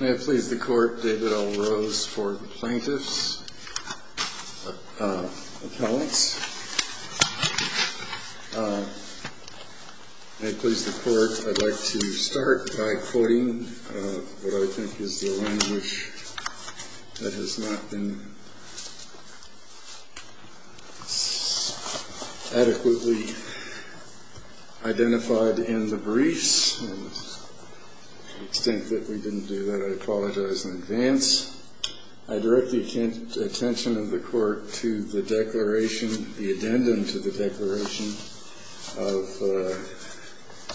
May it please the Court, David L. Rose for the Plaintiff's Appellants. May it please the Court, I'd like to start by quoting what I think is the language that has not been adequately identified in the briefs and to the extent that we didn't do that, I apologize in advance. I direct the attention of the Court to the declaration, the addendum to the declaration of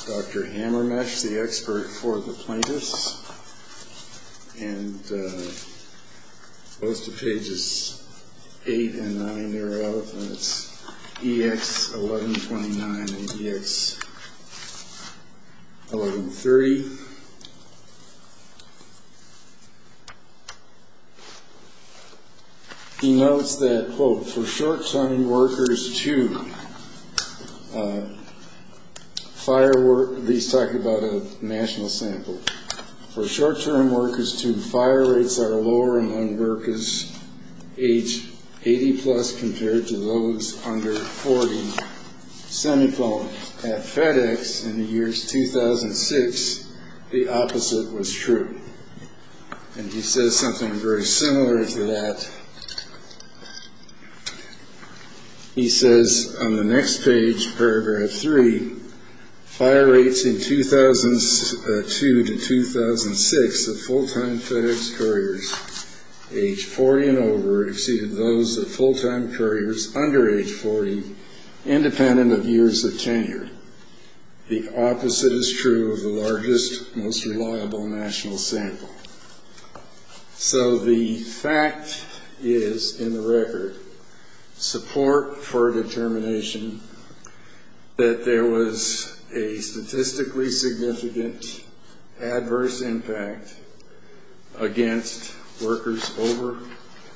Dr. Hammermesh, the expert for the plaintiffs, and goes to pages 8 and 9 thereof, and it's EX 1129 and EX 1130. He notes that, quote, for short-term workers to firework, these talk about a national sample. For short-term workers to fire rates are lower among workers age 80 plus compared to those under 40. At FedEx in the years 2006, the opposite was true. And he says something very similar to that. He says on the next page, paragraph 3, fire rates in 2002 to 2006 of full-time FedEx couriers age 40 and over exceeded those of full-time couriers under age 40, independent of years of tenure. The opposite is true of the largest, most reliable national sample. So the fact is, in the record, support for determination that there was a statistically significant adverse impact against workers over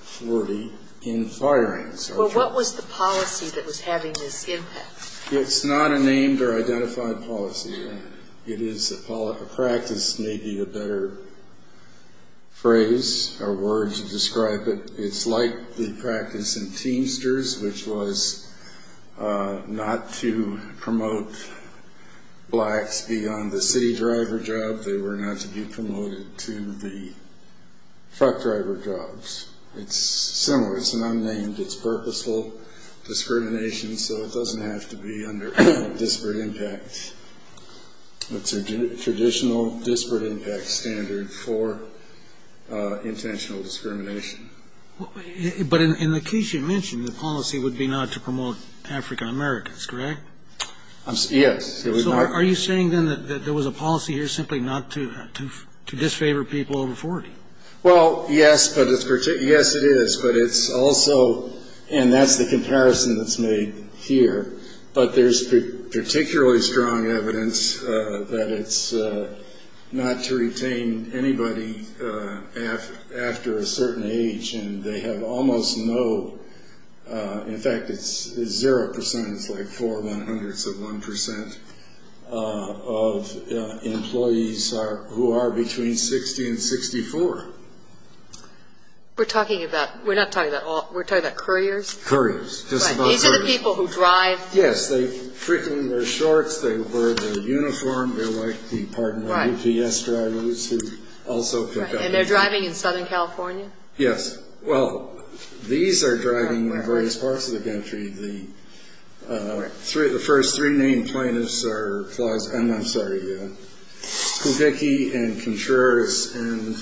40 in firing. But what was the policy that was having this impact? It's not a named or identified policy. It is a practice, maybe a better phrase or word to describe it. It's like the practice in Teamsters, which was not to promote blacks beyond the city driver job. They were not to be promoted to the truck driver jobs. It's similar. It's an unnamed. It's purposeful discrimination, so it doesn't have to be under disparate impact. It's a traditional disparate impact standard for intentional discrimination. But in the case you mentioned, the policy would be not to promote African Americans, correct? Yes. So are you saying, then, that there was a policy here simply not to disfavor people over 40? Well, yes, but it's – yes, it is, but it's also – and that's the comparison that's made here. But there's particularly strong evidence that it's not to retain anybody after a certain age, and they have almost no – in fact, it's zero percent. It's like four one-hundredths of one percent of employees who are between 60 and 64. We're talking about – we're not talking about all – we're talking about couriers? Couriers. Just about couriers. Right. These are the people who drive? Yes. They fricken wear shorts. They wear their uniform. They're like the – pardon me – UPS drivers who also pick up. Right. And they're driving in Southern California? Yes. Well, these are driving in various parts of the country. The first three named plaintiffs are – I'm sorry – Kuhiki and Contreras and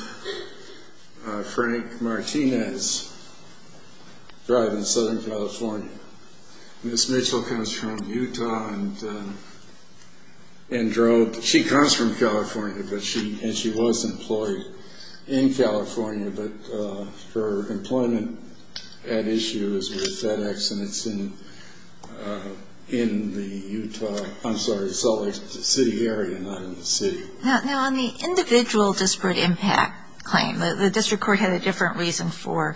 Frank Martinez drive in Southern California. Miss Mitchell comes from Utah and drove – she comes from California, but she – and she was employed in California, but her employment at issue is with FedEx, and it's in the Utah – I'm sorry, Salt Lake City area, not in the city. Now, on the individual disparate impact claim, the district court had a different reason for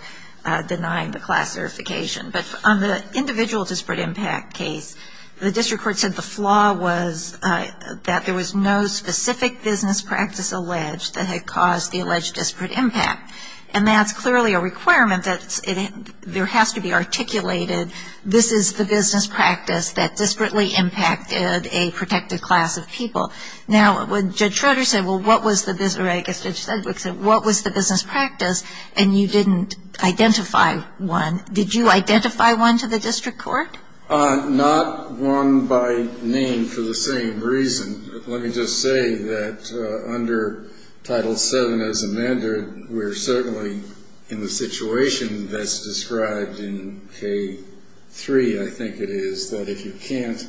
denying the class certification. But on the individual disparate impact case, the district court said the flaw was that there was no specific business practice alleged that had caused the alleged disparate impact. And that's clearly a requirement that there has to be articulated, this is the business practice that disparately impacted a protected class of people. Now, when Judge Schroeder said, well, what was the – or I guess Judge Sedgwick said, what was the business practice, and you didn't identify one, did you identify one to the district court? Not one by name for the same reason. Let me just say that under Title VII as amended, we're certainly in the situation that's described in K-3, I think it is, that if you can't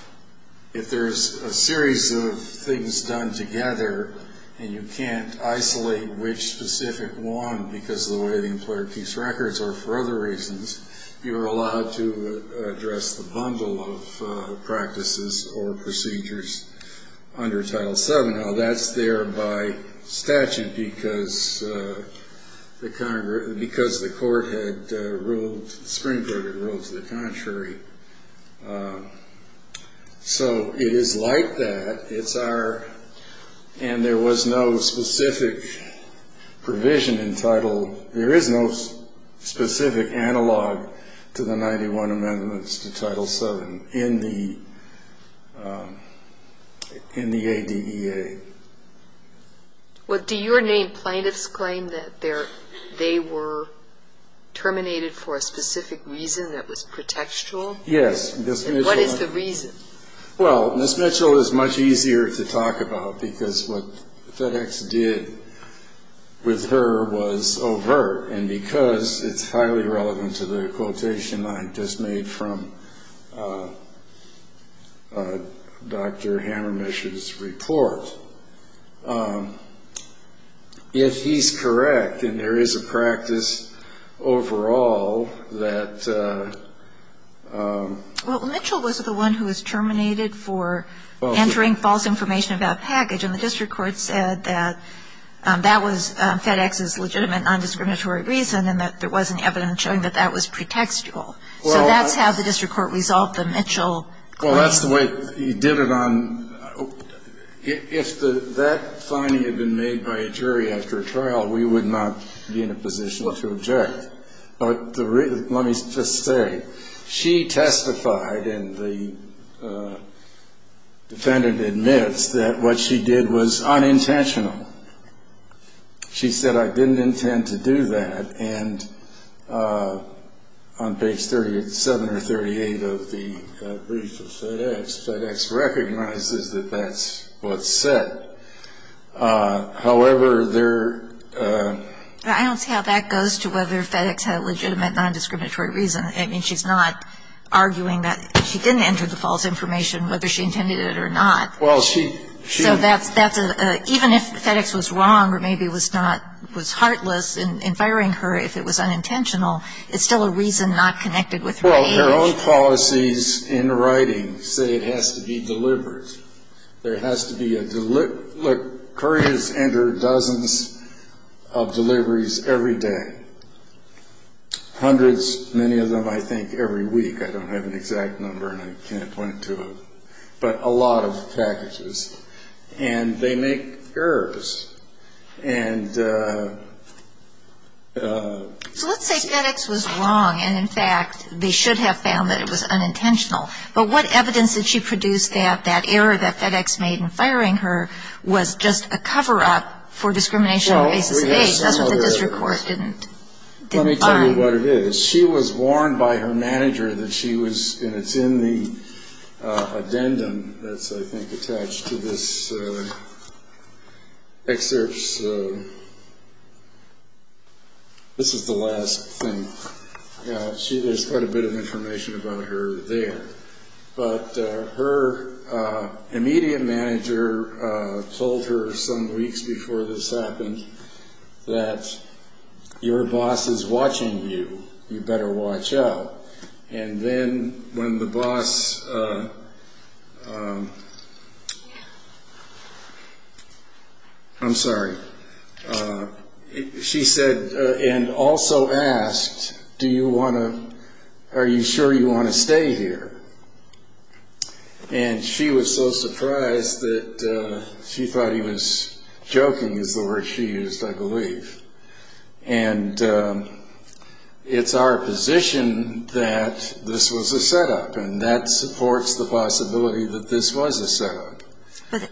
– if there's a series of things done together and you can't isolate which specific one because of the way the employer keeps records or for other reasons, you're allowed to address the bundle of practices or procedures under Title VII. Now, that's there by statute because the court had ruled – the Supreme Court had ruled to the contrary. So it is like that. It's our – and there was no specific provision in Title – there is no specific analog to the 91 amendments to Title VII in the ADEA. Well, do your named plaintiffs claim that they were terminated for a specific reason that was pretextual? Yes. And what is the reason? Well, Ms. Mitchell is much easier to talk about because what FedEx did with her was overt, and because it's highly relevant to the quotation I just made from Dr. Hammermich's report. If he's correct and there is a practice overall that – Well, Mitchell was the one who was terminated for entering false information about a package, and the district court said that that was FedEx's legitimate nondiscriminatory reason and that there wasn't evidence showing that that was pretextual. So that's how the district court resolved the Mitchell claim. Well, that's the way he did it on – if that finding had been made by a jury after a trial, we would not be in a position to object. Let me just say, she testified and the defendant admits that what she did was unintentional. She said, I didn't intend to do that, and on page 37 or 38 of the brief of FedEx, FedEx recognizes that that's what's said. However, there – I don't see how that goes to whether FedEx had a legitimate nondiscriminatory reason. I mean, she's not arguing that she didn't enter the false information, whether she intended it or not. Well, she – So that's – even if FedEx was wrong or maybe was not – was heartless in firing her if it was unintentional, it's still a reason not connected with her age. Well, their own policies in writing say it has to be deliberate. There has to be a – look, couriers enter dozens of deliveries every day. Hundreds, many of them, I think, every week. I don't have an exact number, and I can't point to them. But a lot of packages. And they make errors. And – So let's say FedEx was wrong, and, in fact, they should have found that it was unintentional. But what evidence did she produce that that error that FedEx made in firing her was just a cover-up for discrimination on the basis of age? That's what the district court didn't define. Let me tell you what it is. She was warned by her manager that she was – and it's in the addendum that's, I think, attached to this excerpt. So this is the last thing. There's quite a bit of information about her there. But her immediate manager told her some weeks before this happened that your boss is watching you. You better watch out. And then when the boss – I'm sorry. She said and also asked, do you want to – are you sure you want to stay here? And she was so surprised that she thought he was joking is the word she used, I believe. And it's our position that this was a setup, and that supports the possibility that this was a setup.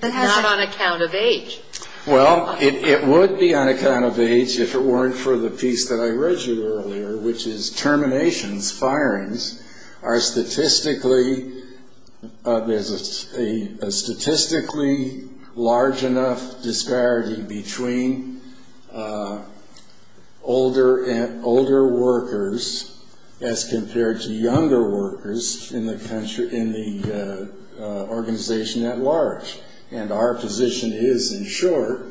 Not on account of age. Well, it would be on account of age if it weren't for the piece that I read you earlier, which is terminations, firings, are statistically – there's a statistically large enough disparity between older workers as compared to younger workers in the organization at large. And our position is, in short,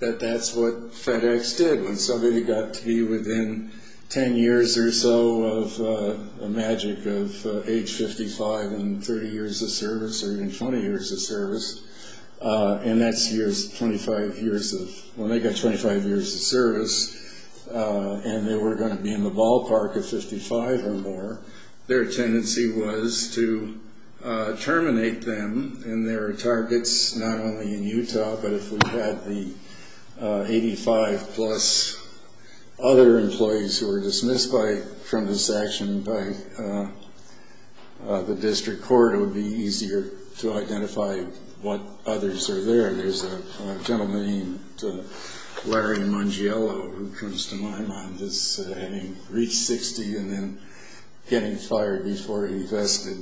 that that's what FedEx did. When somebody got to be within 10 years or so of the magic of age 55 and 30 years of service or even 20 years of service, and that's 25 years of – when they got 25 years of service and they were going to be in the ballpark of 55 or more, their tendency was to terminate them. And there are targets not only in Utah, but if we had the 85-plus other employees who were dismissed from this action by the district court, it would be easier to identify what others are there. There's a gentleman named Larry Mangiello, who comes to my mind, that's having reached 60 and then getting fired before he vested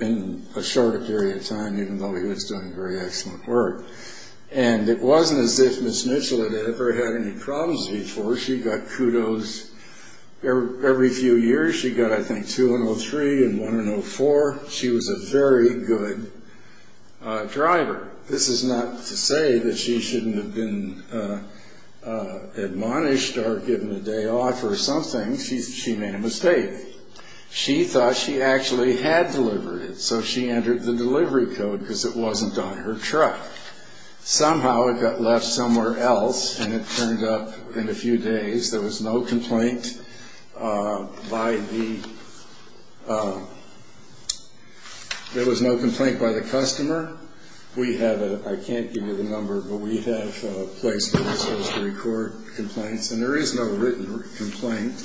in a shorter period of time, even though he was doing very excellent work. And it wasn't as if Ms. Mitchell had ever had any problems before. She got kudos every few years. She got, I think, two in 03 and one in 04. She was a very good driver. This is not to say that she shouldn't have been admonished or given a day off or something. She made a mistake. She thought she actually had delivered it, so she entered the delivery code because it wasn't on her truck. Somehow it got left somewhere else, and it turned up in a few days. There was no complaint by the customer. I can't give you the number, but we have a place where we're supposed to record complaints, and there is no written complaint.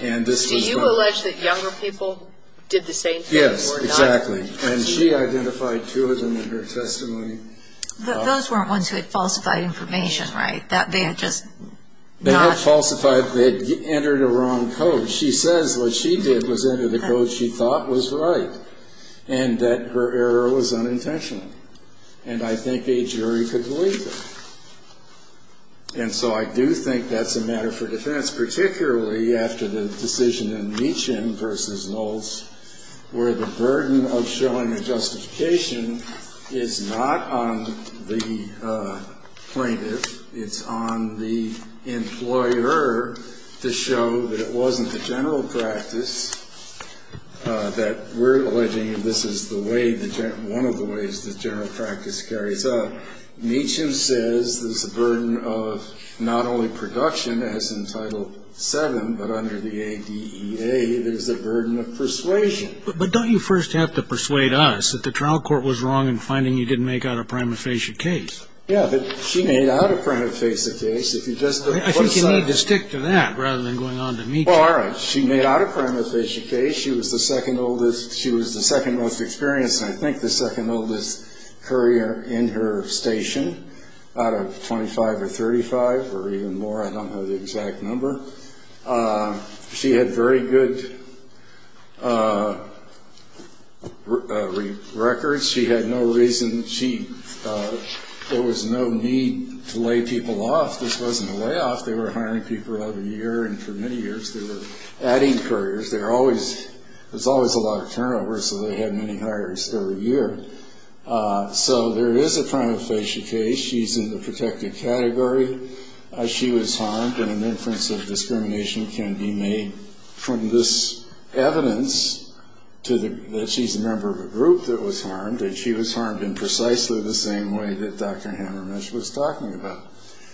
Do you allege that younger people did the same thing or not? Yes, exactly. And she identified two of them in her testimony. Those weren't ones who had falsified information, right? They had falsified. They had entered a wrong code. She says what she did was enter the code she thought was right and that her error was unintentional. And I think a jury could believe that. And so I do think that's a matter for defense, particularly after the decision in Meacham v. Knowles, where the burden of showing a justification is not on the plaintiff. It's on the employer to show that it wasn't the general practice, that we're alleging this is one of the ways the general practice carries out. Meacham says there's a burden of not only production, as in Title VII, but under the ADEA, there's a burden of persuasion. But don't you first have to persuade us that the trial court was wrong in finding you didn't make out a prima facie case? Yeah, but she made out a prima facie case. I think you need to stick to that rather than going on to Meacham. Well, all right. She made out a prima facie case. She was the second oldest. She was the second most experienced and I think the second oldest courier in her station, out of 25 or 35 or even more. I don't know the exact number. She had very good records. She had no reason to cheat. There was no need to lay people off. This wasn't a layoff. They were hiring people every year, and for many years they were adding couriers. There's always a lot of turnover, so they had many hires every year. So there is a prima facie case. She's in the protected category. She was harmed and an inference of discrimination can be made from this evidence that she's a member of a group that was harmed and she was harmed in precisely the same way that Dr. Hammermesh was talking about.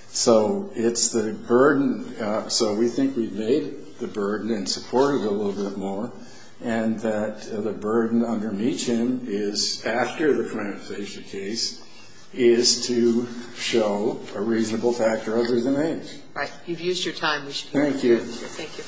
So it's the burden. So we think we've made the burden and supported it a little bit more and that the burden under Meacham is, after the prima facie case, is to show a reasonable factor other than age. Right. You've used your time. Thank you. Thank you.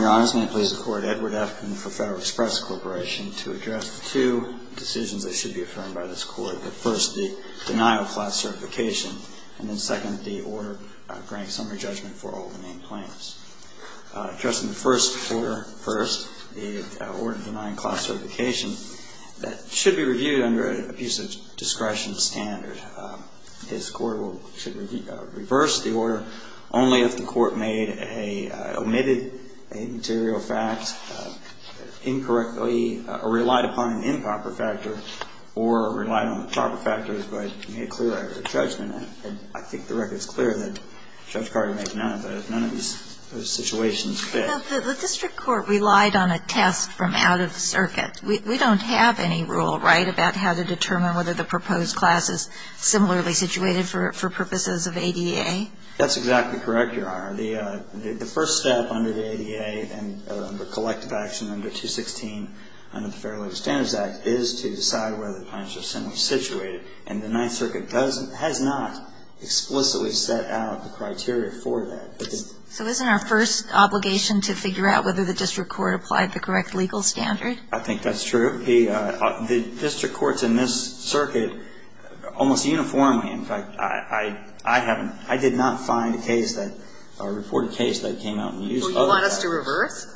Your Honor, may I please report Edward Afton for Federal Express Corporation to address the two decisions that should be affirmed by this Court. First, the denial of class certification, and then second, the order granting summary judgment for all the main claims. Addressing the first order, first, the order denying class certification, that should be reviewed under an abuse of discretion standard. This Court should reverse the order only if the Court made a omitted material fact incorrectly or relied upon an improper factor or relied on the proper factors but made clear a judgment. I think the record is clear that Judge Carter made none of those. None of those situations fit. The district court relied on a test from out of circuit. We don't have any rule, right, about how to determine whether the proposed class is similarly situated for purposes of ADA? That's exactly correct, Your Honor. The first step under the ADA and the collective action under 216 under the Fair Labor Standards Act is to decide whether the plan is similarly situated. And the Ninth Circuit has not explicitly set out the criteria for that. So isn't our first obligation to figure out whether the district court applied the correct legal standard? I think that's true. The district courts in this circuit almost uniformly, in fact, I haven't, I did not find a case that, or report a case that came out and used other factors. Well, you want us to reverse?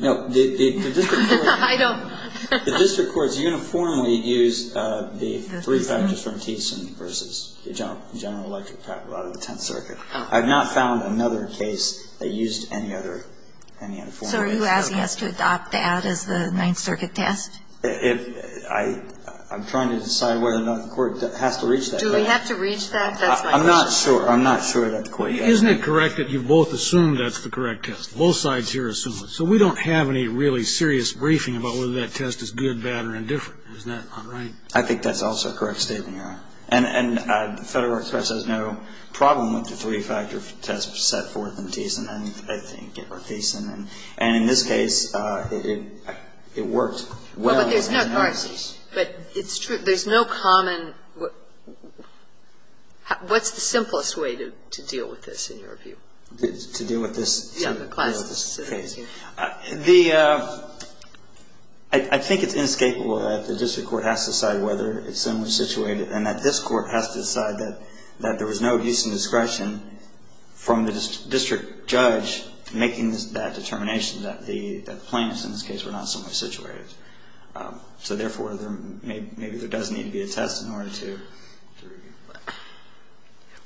No. I don't. The district courts uniformly use the three factors from Thiessen versus the general electric factor out of the Tenth Circuit. I've not found another case that used any other, any uniform. So are you asking us to adopt that as the Ninth Circuit test? I'm trying to decide whether or not the Court has to reach that. Do we have to reach that? I'm not sure. I'm not sure that the Court has to. Isn't it correct that you've both assumed that's the correct test? Both sides here assume it. So we don't have any really serious briefing about whether that test is good, bad, or indifferent. Isn't that right? I think that's also a correct statement, Your Honor. And Federal Express has no problem with the three-factor test set forth in Thiessen, And in this case, it worked well in the analysis. But it's true. There's no common what's the simplest way to deal with this in your view? To deal with this? Yeah. To deal with this case. I think it's inescapable that the district court has to decide whether it's so much situated and that this Court has to decide that there was no use in discretion from the district judge making that determination that the plaintiffs in this case were not so much situated. So therefore, maybe there does need to be a test in order to review.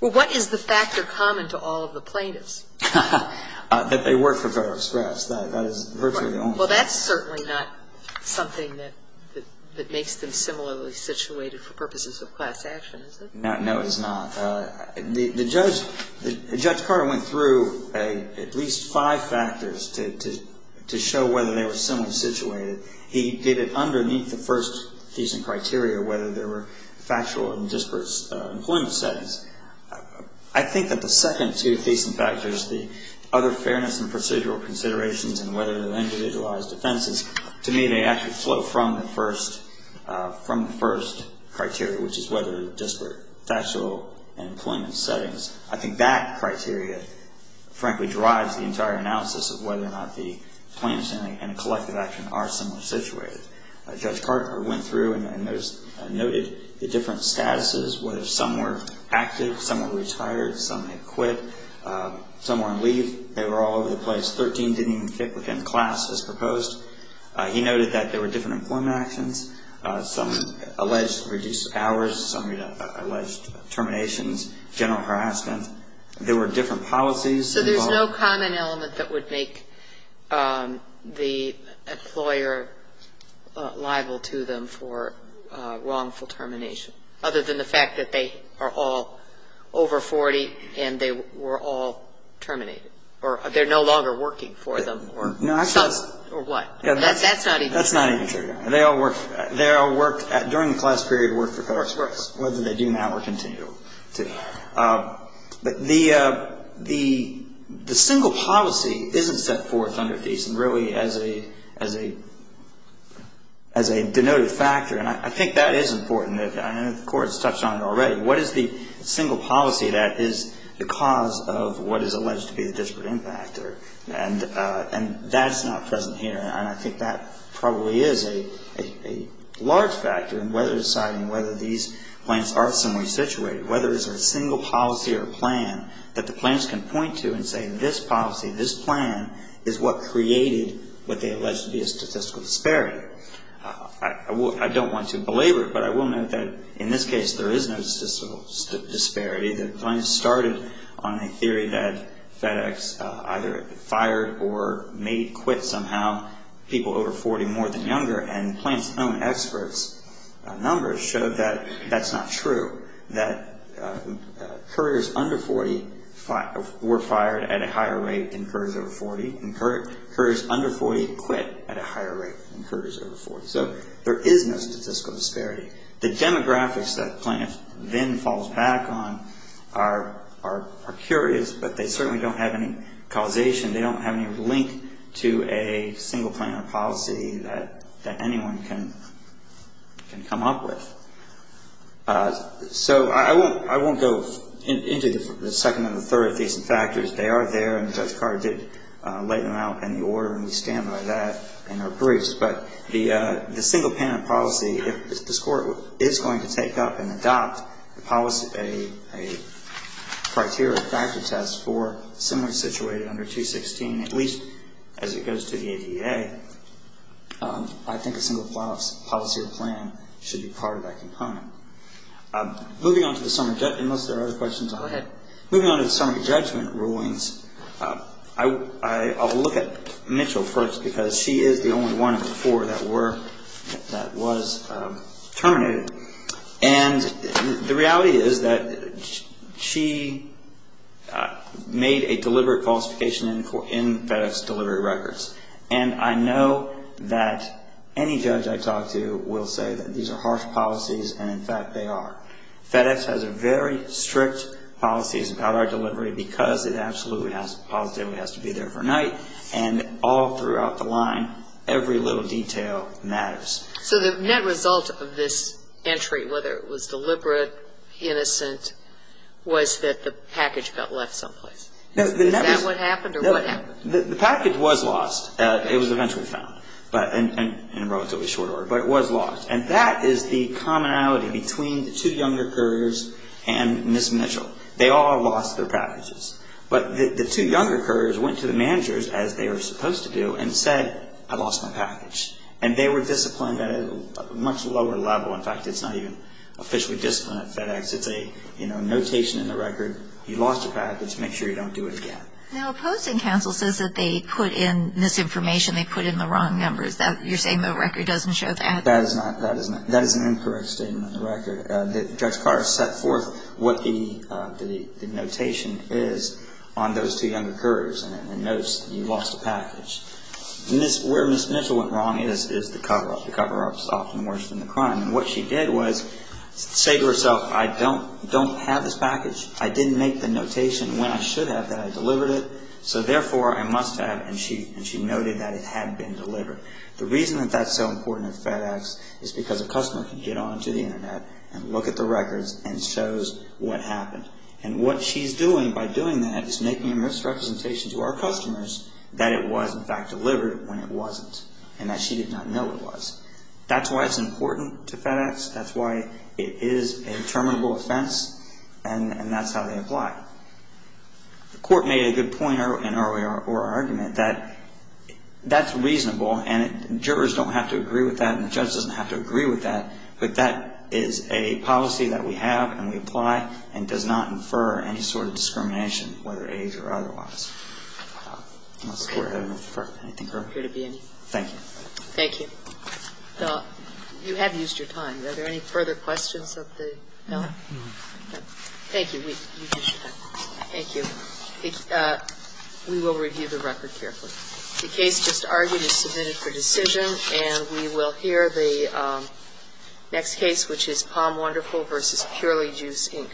Well, what is the factor common to all of the plaintiffs? That they work for Federal Express. That is virtually the only one. Well, that's certainly not something that makes them similarly situated for purposes of class action, is it? No, it's not. The judge, Judge Carter went through at least five factors to show whether they were similarly situated. He did it underneath the first thesis criteria, whether there were factual and disparate employment settings. I think that the second two thesis factors, the other fairness and procedural considerations and whether there were individualized offenses, to me, they actually flow from the first criteria, which is whether there were disparate factual and employment settings. I think that criteria, frankly, drives the entire analysis of whether or not the plaintiffs in a collective action are similarly situated. Judge Carter went through and noted the different statuses, whether some were active, some were retired, some had quit, some were on leave. They were all over the place. Thirteen didn't even fit within class as proposed. He noted that there were different employment actions, some alleged reduced hours, some alleged terminations, general harassment. There were different policies involved. There's no common element that would make the employer liable to them for wrongful termination, other than the fact that they are all over 40 and they were all terminated or they're no longer working for them or what. That's not even true. That's not even true. They all worked. They all worked during the class period, worked for Congress, whether they do now or continue to. But the single policy isn't set forth under Thiessen really as a denoted factor. And I think that is important. I know the Court has touched on it already. What is the single policy that is the cause of what is alleged to be the disparate impact? And that's not present here. And I think that probably is a large factor in whether deciding whether these plaintiffs are somewhere situated, whether it's a single policy or plan that the plaintiffs can point to and say this policy, this plan is what created what they alleged to be a statistical disparity. I don't want to belabor it, but I will note that in this case there is no statistical disparity. The plaintiffs started on a theory that FedEx either fired or made it quit somehow people over 40 more than younger, and Plaintiff's own experts' numbers show that that's not true, that couriers under 40 were fired at a higher rate than couriers over 40, and couriers under 40 quit at a higher rate than couriers over 40. So there is no statistical disparity. The demographics that Plaintiff then falls back on are curious, but they certainly don't have any causation. They don't have any link to a single plan or policy that anyone can come up with. So I won't go into the second and the third of these factors. They are there, and Judge Carr did lay them out in the order, and we stand by that in our briefs. But the single plan or policy, if this Court is going to take up and adopt a policy, a at least as it goes to the ADA, I think a single policy or plan should be part of that component. Moving on to the summary judgment rulings, I will look at Mitchell first because she is the only one of the four that was terminated, and the reality is that she made a deliberate falsification in FedEx delivery records. And I know that any judge I talk to will say that these are harsh policies, and in fact they are. FedEx has very strict policies about our delivery because it absolutely has to be there for night, and all throughout the line, every little detail matters. So the net result of this entry, whether it was deliberate, innocent, was that the package got left someplace. Is that what happened or what happened? The package was lost. It was eventually found in a relatively short order, but it was lost. And that is the commonality between the two younger couriers and Ms. Mitchell. They all lost their packages. But the two younger couriers went to the managers, as they were supposed to do, and said, I lost my package. And they were disciplined at a much lower level. In fact, it's not even officially disciplined at FedEx. It's a notation in the record. You lost your package. Make sure you don't do it again. Now, opposing counsel says that they put in misinformation. They put in the wrong numbers. You're saying the record doesn't show that? That is not. That is not. That is an incorrect statement on the record. Judge Carr set forth what the notation is on those two younger couriers and notes that you lost a package. Where Ms. Mitchell went wrong is the cover-up. The cover-up is often worse than the crime. And what she did was say to herself, I don't have this package. I didn't make the notation when I should have that I delivered it. So, therefore, I must have. And she noted that it had been delivered. The reason that that's so important at FedEx is because a customer can get onto the Internet and look at the records and shows what happened. And what she's doing by doing that is making a misrepresentation to our customers that it was, in fact, delivered when it wasn't and that she did not know it was. That's why it's important to FedEx. That's why it is a determinable offense. And that's how they apply. The court made a good point in our argument that that's reasonable and jurors don't have to agree with that and the judge doesn't have to agree with that, but that is a policy that we have and we apply and does not infer any sort of discrimination, whether age or otherwise. Unless the Court had anything further? There appear to be any. Thank you. Thank you. You have used your time. Are there any further questions of the panel? No. Thank you. You've used your time. Thank you. We will review the record carefully. The case just argued is submitted for decision, and we will hear the next case, which is Palm Wonderful v. Purely Juice, Inc.